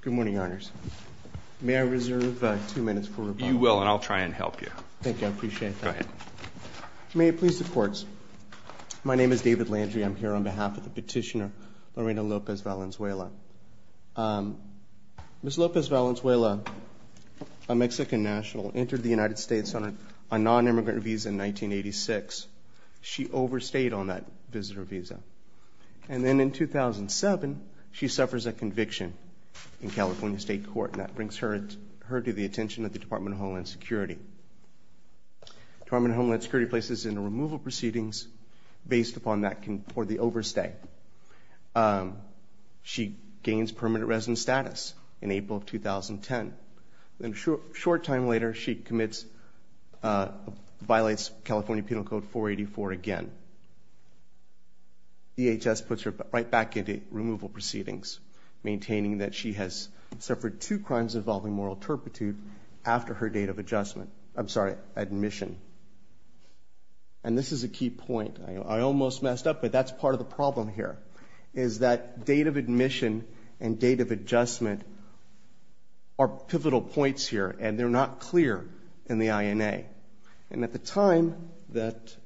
Good morning, Your Honors. May I reserve two minutes for rebuttal? You will, and I'll try and help you. Thank you. I appreciate that. Go ahead. May it please the courts, my name is David Landry. I'm here on behalf of the petitioner Lorena Lopez Valenzuela. Ms. Lopez Valenzuela, a Mexican national, entered the United States on a non-immigrant visa in 1986. She overstayed on that visitor visa. And then in 2007, she suffers a conviction in California State Court, and that brings her to the attention of the Department of Homeland Security. Department of Homeland Security places in removal proceedings based upon that or the overstay. She gains permanent resident status in April of 2010. Then a short time later, she commits, violates California Penal Code 484 again. DHS puts her right back into removal proceedings, maintaining that she has suffered two crimes involving moral turpitude after her date of admission. And this is a key point. I almost messed up, but that's part of the problem here, is that date of admission and date of adjustment are pivotal points here. And they're not clear in the INA. And at the time that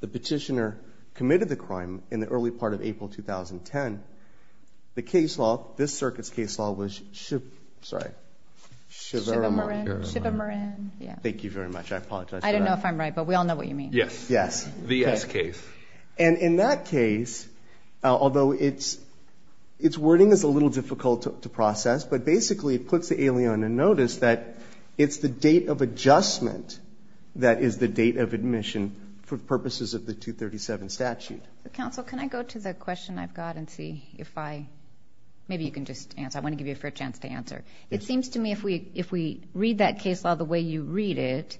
the petitioner committed the crime in the early part of April 2010, the case law, this circuit's case law, was Chivamarin. Thank you very much. I apologize for that. I don't know if I'm right, but we all know what you mean. Yes. Yes. The S case. And in that case, although its wording is a little difficult to process, but basically it puts the alien in notice that it's the date of adjustment that is the date of admission for purposes of the 237 statute. Counsel, can I go to the question I've got and see if I? Maybe you can just answer. I want to give you a fair chance to answer. It seems to me if we read that case law the way you read it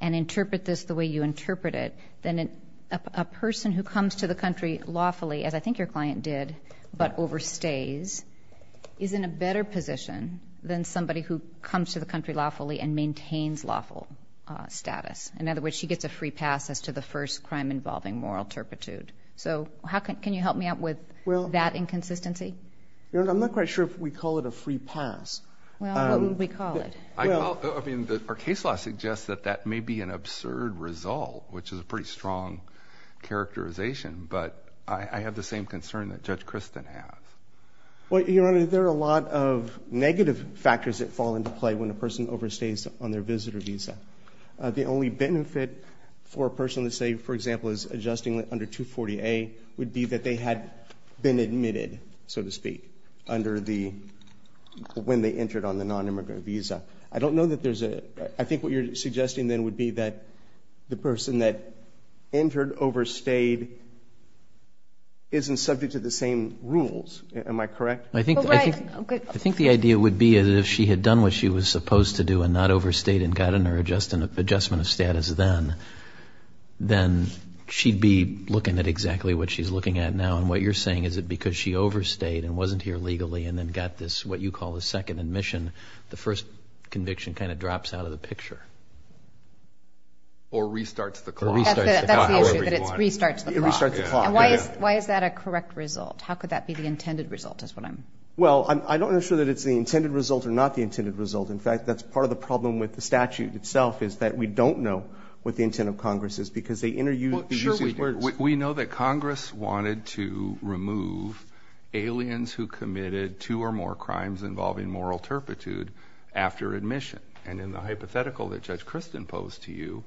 and interpret this the way you interpret it, then a person who comes to the country lawfully, as I think your client did, but overstays, is in a better position than somebody who comes to the country lawfully and maintains lawful status. In other words, she gets a free pass as to the first crime involving moral turpitude. So can you help me out with that inconsistency? I'm not quite sure if we call it a free pass. Well, what would we call it? Our case law suggests that that may be an absurd result, which is a pretty strong characterization. But I have the same concern that Judge Kristen has. Well, Your Honor, there are a lot of negative factors that fall into play when a person overstays on their visitor visa. The only benefit for a person to say, for example, is adjusting under 240A would be that they had been admitted, so to speak, when they entered on the non-immigrant visa. I don't know that there's a? I think what you're suggesting then would be that the person that entered overstayed isn't subject to the same rules. Am I correct? I think the idea would be that if she had done what she was supposed to do and not overstayed and gotten her adjustment of status then, then she'd be looking at exactly what she's looking at now. And what you're saying is that because she overstayed and wasn't here legally and then got this, what you call, a second admission, the first conviction kind of Or restarts the clock. That's the issue, that it restarts the clock. It restarts the clock. And why is that a correct result? How could that be the intended result is what I'm? Well, I'm not sure that it's the intended result or not the intended result. In fact, that's part of the problem with the statute itself is that we don't know what the intent of Congress is because they interuse the user's words. We know that Congress wanted to remove aliens who committed two or more crimes involving moral turpitude after admission. And in the hypothetical that Judge Kristen posed to you,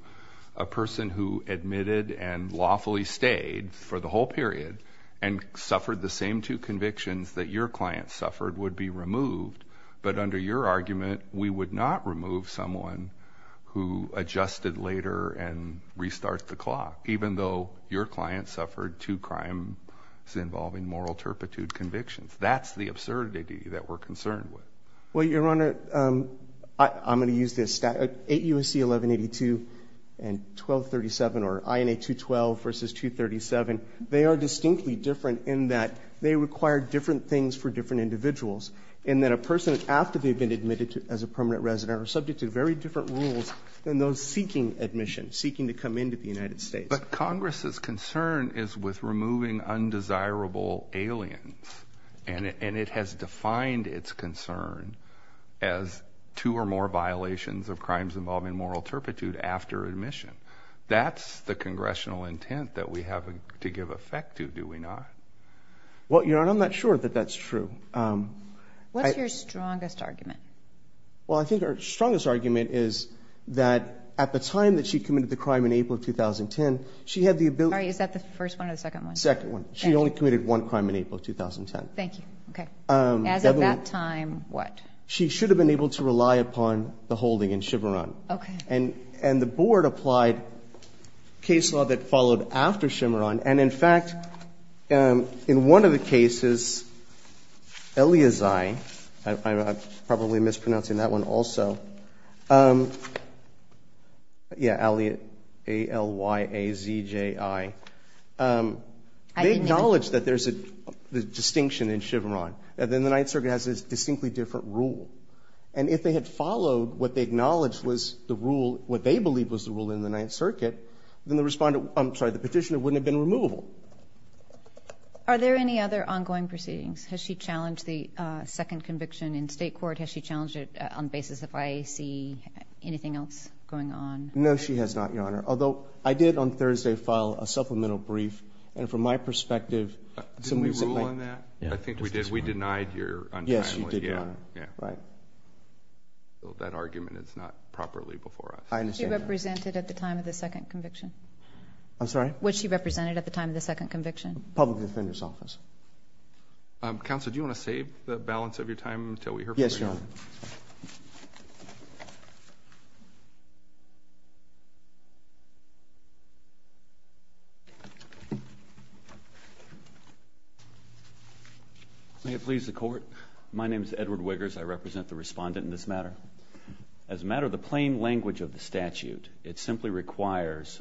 a person who admitted and lawfully stayed for the whole period and suffered the same two convictions that your client suffered would be removed. But under your argument, we would not remove someone who adjusted later and restarts the clock, even though your client suffered two crimes involving moral turpitude convictions. That's the absurdity that we're concerned with. Well, Your Honor, I'm going to use this. 8 U.S.C. 1182 and 1237 or INA 212 versus 237, they are distinctly different in that they require different things for different individuals and that a person after they've been admitted as a permanent resident are subject to very different rules than those seeking admission, seeking to come into the United States. But Congress's concern is with removing undesirable aliens. And it has defined its concern as two or more violations of crimes involving moral turpitude after admission. That's the congressional intent that we have to give effect to, do we not? Well, Your Honor, I'm not sure that that's true. What's your strongest argument? Well, I think her strongest argument is that at the time that she committed the crime in April of 2010, she had the ability. Is that the first one or the second one? Second one. She only committed one crime in April of 2010. Thank you. OK. As of that time, what? She should have been able to rely upon the holding in Chimarran. And the board applied case law that followed after Chimarran. And in fact, in one of the cases, Eliazai, I'm probably mispronouncing that one also, yeah, E-L-Y-A-Z-A-I. I didn't hear it. They acknowledged that there's a distinction in Chimarran. And then the Ninth Circuit has a distinctly different rule. And if they had followed what they acknowledged was the rule, what they believed was the rule in the Ninth Circuit, then the respondent, I'm sorry, the petitioner wouldn't have been removable. Are there any other ongoing proceedings? Has she challenged the second conviction in state court? Has she challenged it on the basis of IAC? Anything else going on? No, she has not, Your Honor. Although, I did on Thursday file a supplemental brief. And from my perspective, it's a misappointment. Didn't we rule on that? I think we did. We denied your untimely. Yes, you did, Your Honor. Yeah. Right. That argument is not properly before us. I understand that. Was she represented at the time of the second conviction? I'm sorry? Was she represented at the time of the second conviction? Public Defender's Office. Counselor, do you want to save the balance of your time until we hear from you? Yes, Your Honor. May it please the court. My name is Edward Wiggers. I represent the respondent in this matter. As a matter of the plain language of the statute, it simply requires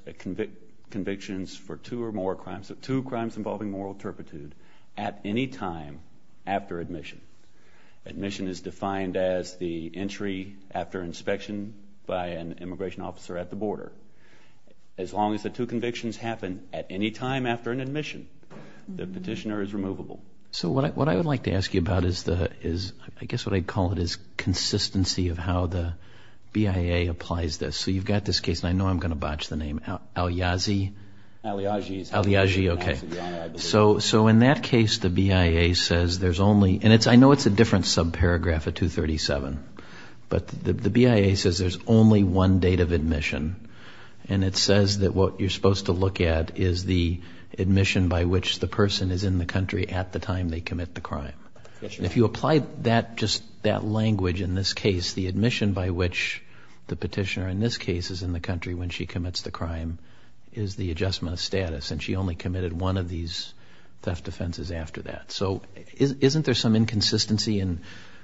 convictions for two or more crimes, two crimes involving moral turpitude, at any time after admission. Admission is defined as the entry after inspection And the statute is defined as the entry after inspection by an immigration officer as long as the two convictions happen at any time after an admission. The petitioner is removable. So what I would like to ask you about is the, I guess what I'd call it, is consistency of how the BIA applies this. So you've got this case, and I know I'm going to botch the name Al-Yazi. Al-Yaji. Al-Yaji, OK. So in that case, the BIA says there's only, and I know it's a different subparagraph at 237, but the BIA says there's only one date of admission. And it says that what you're supposed to look at is the admission by which the person is in the country at the time they commit the crime. If you apply just that language in this case, the admission by which the petitioner in this case is in the country when she commits the crime is the adjustment of status. And she only committed one of these theft offenses after that. So isn't there some inconsistency in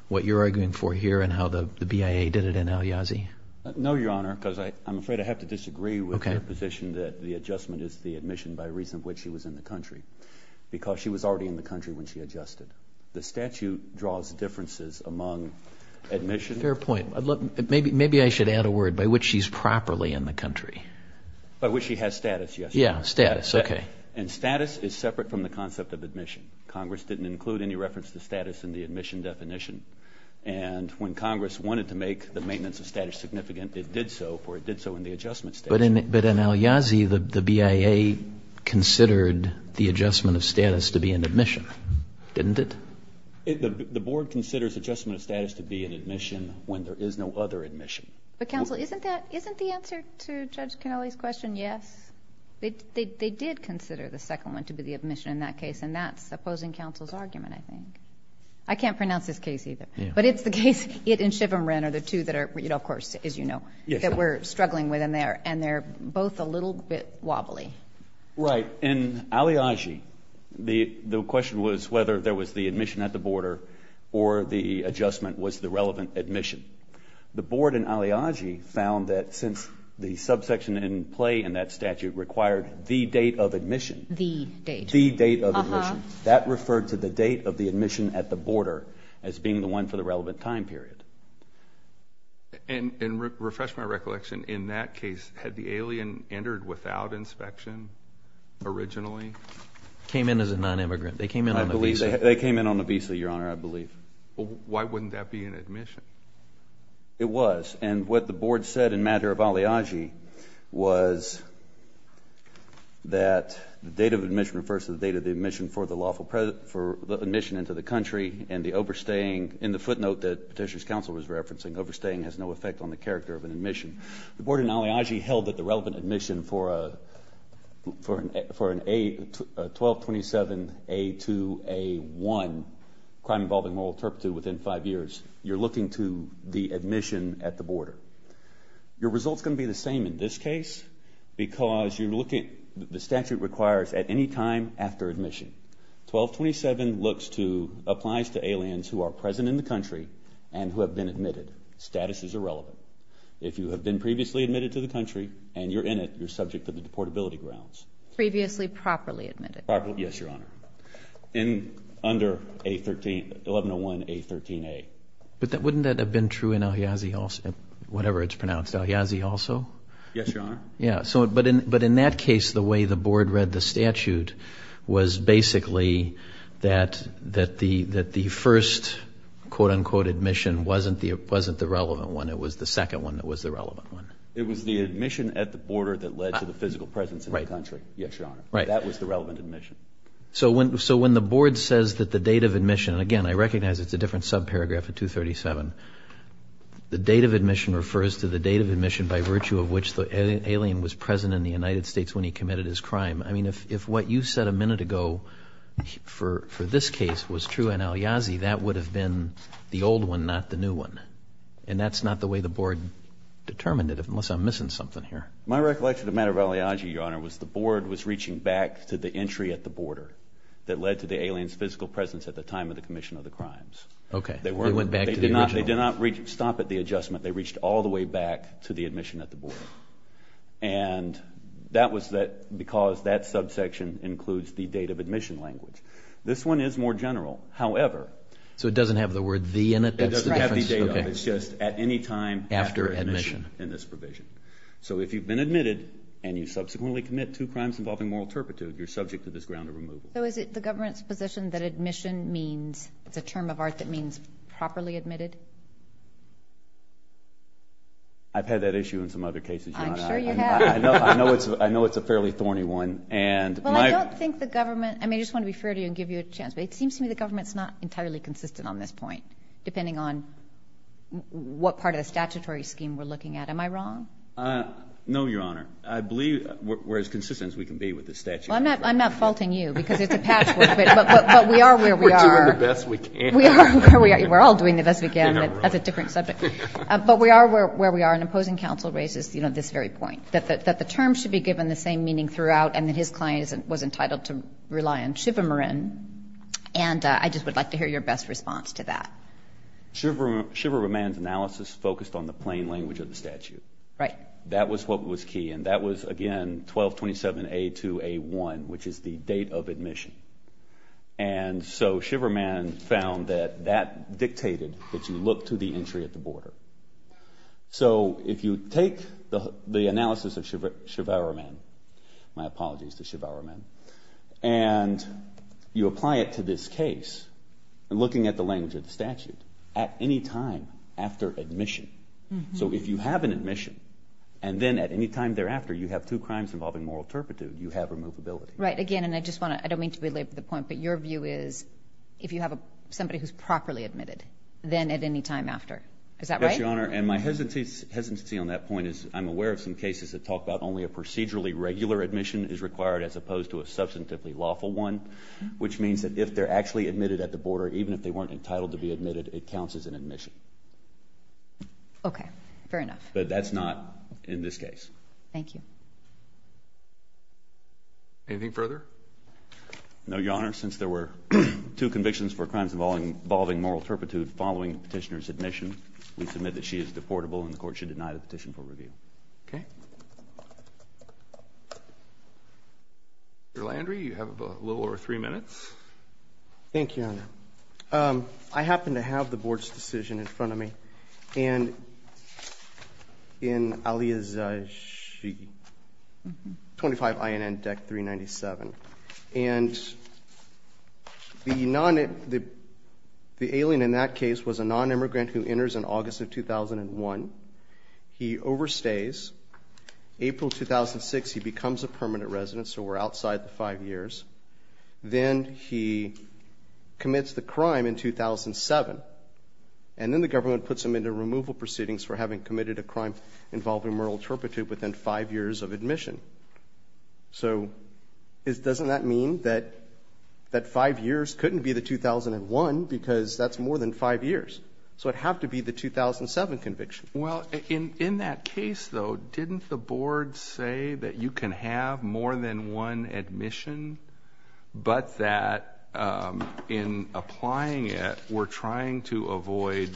what you're arguing for here and how the BIA did it in Al-Yazi? No, Your Honor, because I'm afraid I have to disagree with your position that the adjustment is the admission by reason of which she was in the country. Because she was already in the country when she adjusted. The statute draws differences among admission. Fair point. Maybe I should add a word, by which she's properly in the country. By which she has status, yes. Yeah, status, OK. And status is separate from the concept of admission. Congress didn't include any reference to status in the admission definition. And when Congress wanted to make the maintenance of status significant, it did so, for it did so in the adjustment statute. But in Al-Yazi, the BIA considered the adjustment of status to be an admission, didn't it? The board considers adjustment of status to be an admission when there is no other admission. But counsel, isn't the answer to Judge Canelli's question yes? They did consider the second one to be the admission in that case. And that's opposing counsel's argument, I think. I can't pronounce this case either. But it's the case, it and Chivam Rin are the two that are, of course, as you know, that we're struggling with in there. And they're both a little bit wobbly. Right, in Al-Yazi, the question was whether there was the admission at the border or the adjustment was the relevant admission. The board in Al-Yazi found that since the subsection in play in that statute required the date of admission. The date. The date of admission. That referred to the date of the admission at the border as being the one for the relevant time period. And refresh my recollection. In that case, had the alien entered without inspection originally? Came in as a non-immigrant. They came in on a visa. They came in on a visa, Your Honor, I believe. But why wouldn't that be an admission? It was. And what the board said in matter of Al-Yazi was that the date of admission refers to the date of the admission for the admission into the country. And the overstaying, in the footnote that Petitioner's counsel was referencing, overstaying has no effect on the character of an admission. The board in Al-Yazi held that the relevant admission for a 1227A2A1, crime involving moral turpitude, within five years, you're looking to the admission at the border. Your result's going to be the same in this case because you're looking, the statute requires at any time after admission. 1227 applies to aliens who are present in the country and who have been admitted. Status is irrelevant. If you have been previously admitted to the country and you're in it, you're subject to the deportability grounds. Previously properly admitted. Yes, Your Honor. Under 1101A13A. But wouldn't that have been true in Al-Yazi also? Whatever it's pronounced, Al-Yazi also? Yes, Your Honor. Yeah. But in that case, the way the board read the statute was basically that the first, quote unquote, admission wasn't the relevant one. It was the second one that was the relevant one. It was the admission at the border that led to the physical presence in the country. Yes, Your Honor. That was the relevant admission. So when the board says that the date of admission, and again, I recognize it's a different subparagraph of 237. The date of admission refers to the date of admission by virtue of which the alien was present in the United States when he committed his crime. If what you said a minute ago for this case was true in Al-Yazi, that would have been the old one, not the new one. And that's not the way the board determined it, unless I'm missing something here. My recollection of the matter of Al-Yazi, Your Honor, was the board was reaching back to the entry at the border that led to the alien's physical presence at the time of the commission of the crimes. OK, they went back to the original. They did not stop at the adjustment. They reached all the way back to the admission at the border. And that was because that subsection includes the date of admission language. This one is more general. However, So it doesn't have the word the in it? It doesn't have the date of. It's just at any time after admission in this provision. So if you've been admitted, and you subsequently commit two crimes involving moral turpitude, you're subject to this ground of removal. So is it the government's position that admission means it's a term of art that means properly admitted? I've had that issue in some other cases, Your Honor. I'm sure you have. I know it's a fairly thorny one. Well, I don't think the government, I mean, I just want to be fair to you and give you a chance. But it seems to me the government's not entirely consistent on this point, depending on what part of the statutory scheme we're looking at. Am I wrong? No, Your Honor. I believe we're as consistent as we can be with the statute. Well, I'm not faulting you, because it's a patchwork. But we are where we are. We're doing the best we can. We are where we are. We're all doing the best we can. That's a different subject. But we are where we are. And opposing counsel raises this very point, that the term should be given the same meaning throughout. And that his client was entitled to rely on chivamarin. And I just would like to hear your best response to that. Chivaraman's analysis focused on the plain language of the statute. That was what was key. And that was, again, 1227A2A1, which is the date of admission. And so Chivaraman found that that dictated that you look to the entry at the border. So if you take the analysis of Chivaraman, my apologies to Chivaraman, and you apply it to this case, looking at the language of the statute, at any time after admission. So if you have an admission, and then at any time thereafter, you have two crimes involving moral turpitude, you have removability. Right. Again, and I just want to, I don't mean to belabor the point. But your view is, if you have somebody who's properly admitted, then at any time after. Is that right? Yes, Your Honor. And my hesitancy on that point is, I'm aware of some cases that talk about only a procedurally regular admission is required, as opposed to a substantively lawful one. Which means that if they're actually admitted at the border, even if they weren't entitled to be admitted, it counts as an admission. OK. Fair enough. But that's not in this case. Thank you. Anything further? No, Your Honor. Since there were two convictions for crimes involving moral turpitude following petitioner's admission, we submit that she is deportable, and the court should deny the petition for review. OK. Mr. Landry, you have a little over three minutes. Thank you, Your Honor. I happen to have the board's decision in front of me. And in Aliyah's 25 INN deck 397. And the alien in that case was a non-immigrant who enters in August of 2001. He overstays. April 2006, he becomes a permanent resident, so we're outside the five years. Then he commits the crime in 2007. And then the government puts him into removal proceedings within five years of admission. So doesn't that mean that five years couldn't be the 2001 because that's more than five years? So it'd have to be the 2007 conviction. Well, in that case, though, didn't the board say that you can have more than one admission, but that in applying it, we're trying to avoid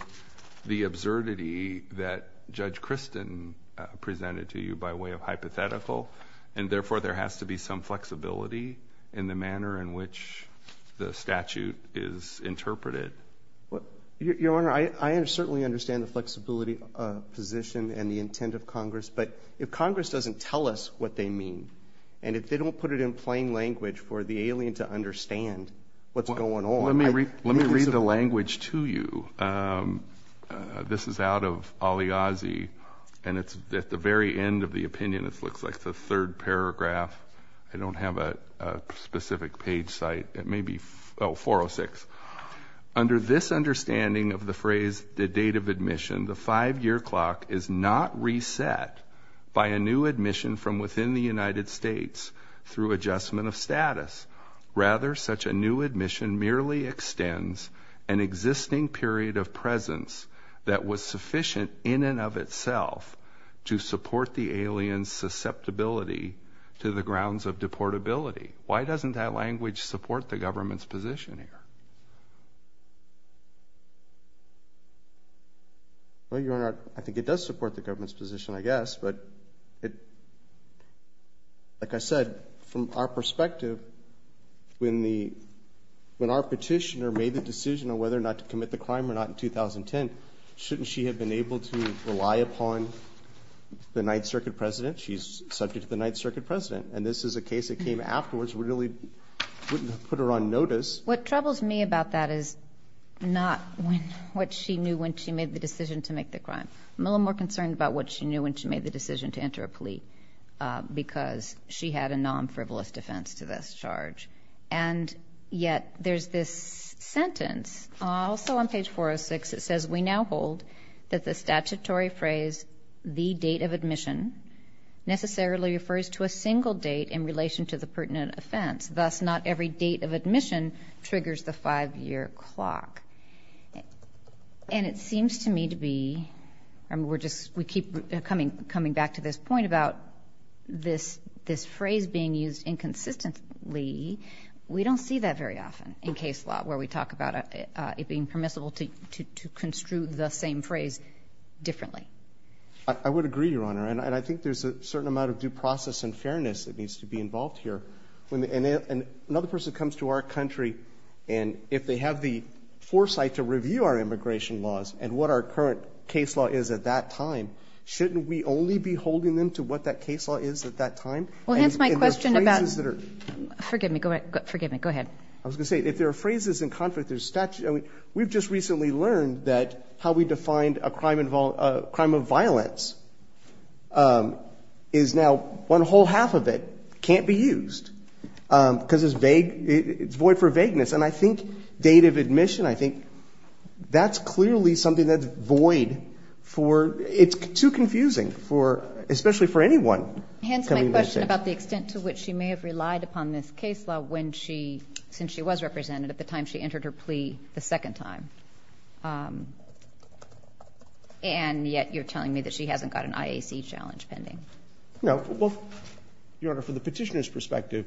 the absurdity that Judge Kristin presented to you by way of hypothetical. And therefore, there has to be some flexibility in the manner in which the statute is interpreted. Your Honor, I certainly understand the flexibility position and the intent of Congress. But if Congress doesn't tell us what they mean, and if they don't put it in plain language for the alien to understand what's going on. Let me read the language to you. This is out of Aliazi. And it's at the very end of the opinion. It looks like the third paragraph. I don't have a specific page site. It may be 406. Under this understanding of the phrase the date of admission, the five-year clock is not reset by a new admission from within the United States through adjustment of status. Rather, such a new admission merely extends an existing period of presence that was sufficient in and of itself to support the alien's susceptibility to the grounds of deportability. Why doesn't that language support the government's position here? Well, Your Honor, I think it does support the government's position, I guess. But like I said, from our perspective, when our petitioner made the decision on whether or not commit the crime or not in 2010, shouldn't she have been able to rely upon the Ninth Circuit president? She's subject to the Ninth Circuit president. And this is a case that came afterwards. We really wouldn't have put her on notice. What troubles me about that is not what she knew when she made the decision to make the crime. I'm a little more concerned about what she knew when she made the decision to enter a plea. Because she had a non-frivolous defense to this charge. And yet, there's this sentence, also on page 406. It says, we now hold that the statutory phrase, the date of admission, necessarily refers to a single date in relation to the pertinent offense. Thus, not every date of admission triggers the five-year clock. And it seems to me to be, we're just, we keep coming back to this point about this phrase being used inconsistently. We don't see that very often in case law, where we talk about it being permissible to construe the same phrase differently. I would agree, Your Honor. And I think there's a certain amount of due process and fairness that needs to be involved here. And another person comes to our country, and if they have the foresight to review our immigration laws and what our current case law is at that time, shouldn't we only be holding them to what that case law is at that time? Well, hence my question about, forgive me, go ahead. I was going to say, if there are phrases in conflict, there's statute. We've just recently learned that how we defined a crime of violence is now one whole half of it can't be used, because it's void for vagueness. And I think date of admission, I think that's clearly something that's void for, it's too confusing for, especially for anyone. Hence my question about the extent to which she may have relied upon this case law when she, since she was represented at the time she entered her plea the second time. And yet you're telling me that she hasn't got an IAC challenge pending. No, well, Your Honor, from the petitioner's perspective,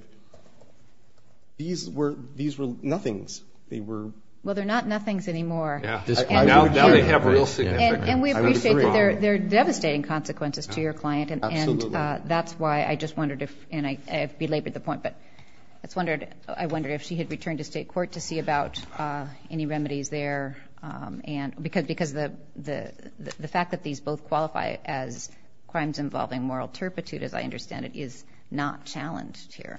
these were, these were nothings. They were. Well, they're not nothings anymore. Yeah. Now they have real significance. And we appreciate that they're devastating consequences to your client. And that's why I just wondered if, and I belabored the point, but I wondered if she had returned to state court to see about any remedies there. And because the fact that these both qualify as crimes involving moral turpitude, as I understand it, is not challenged here.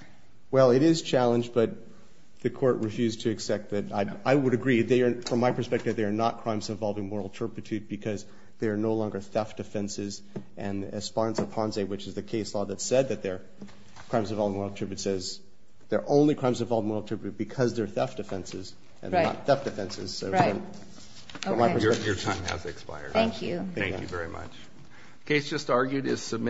Well, it is challenged, but the court refused to accept it. I would agree. From my perspective, they are not crimes involving moral turpitude because they are no longer theft offenses. And Esponsa-Ponze, which is the case law that said that they're crimes involving moral turpitude, says they're only crimes involving moral turpitude because they're theft offenses and not theft offenses. So from my perspective. Your time has expired. Thank you. Thank you very much. Case just argued is submitted.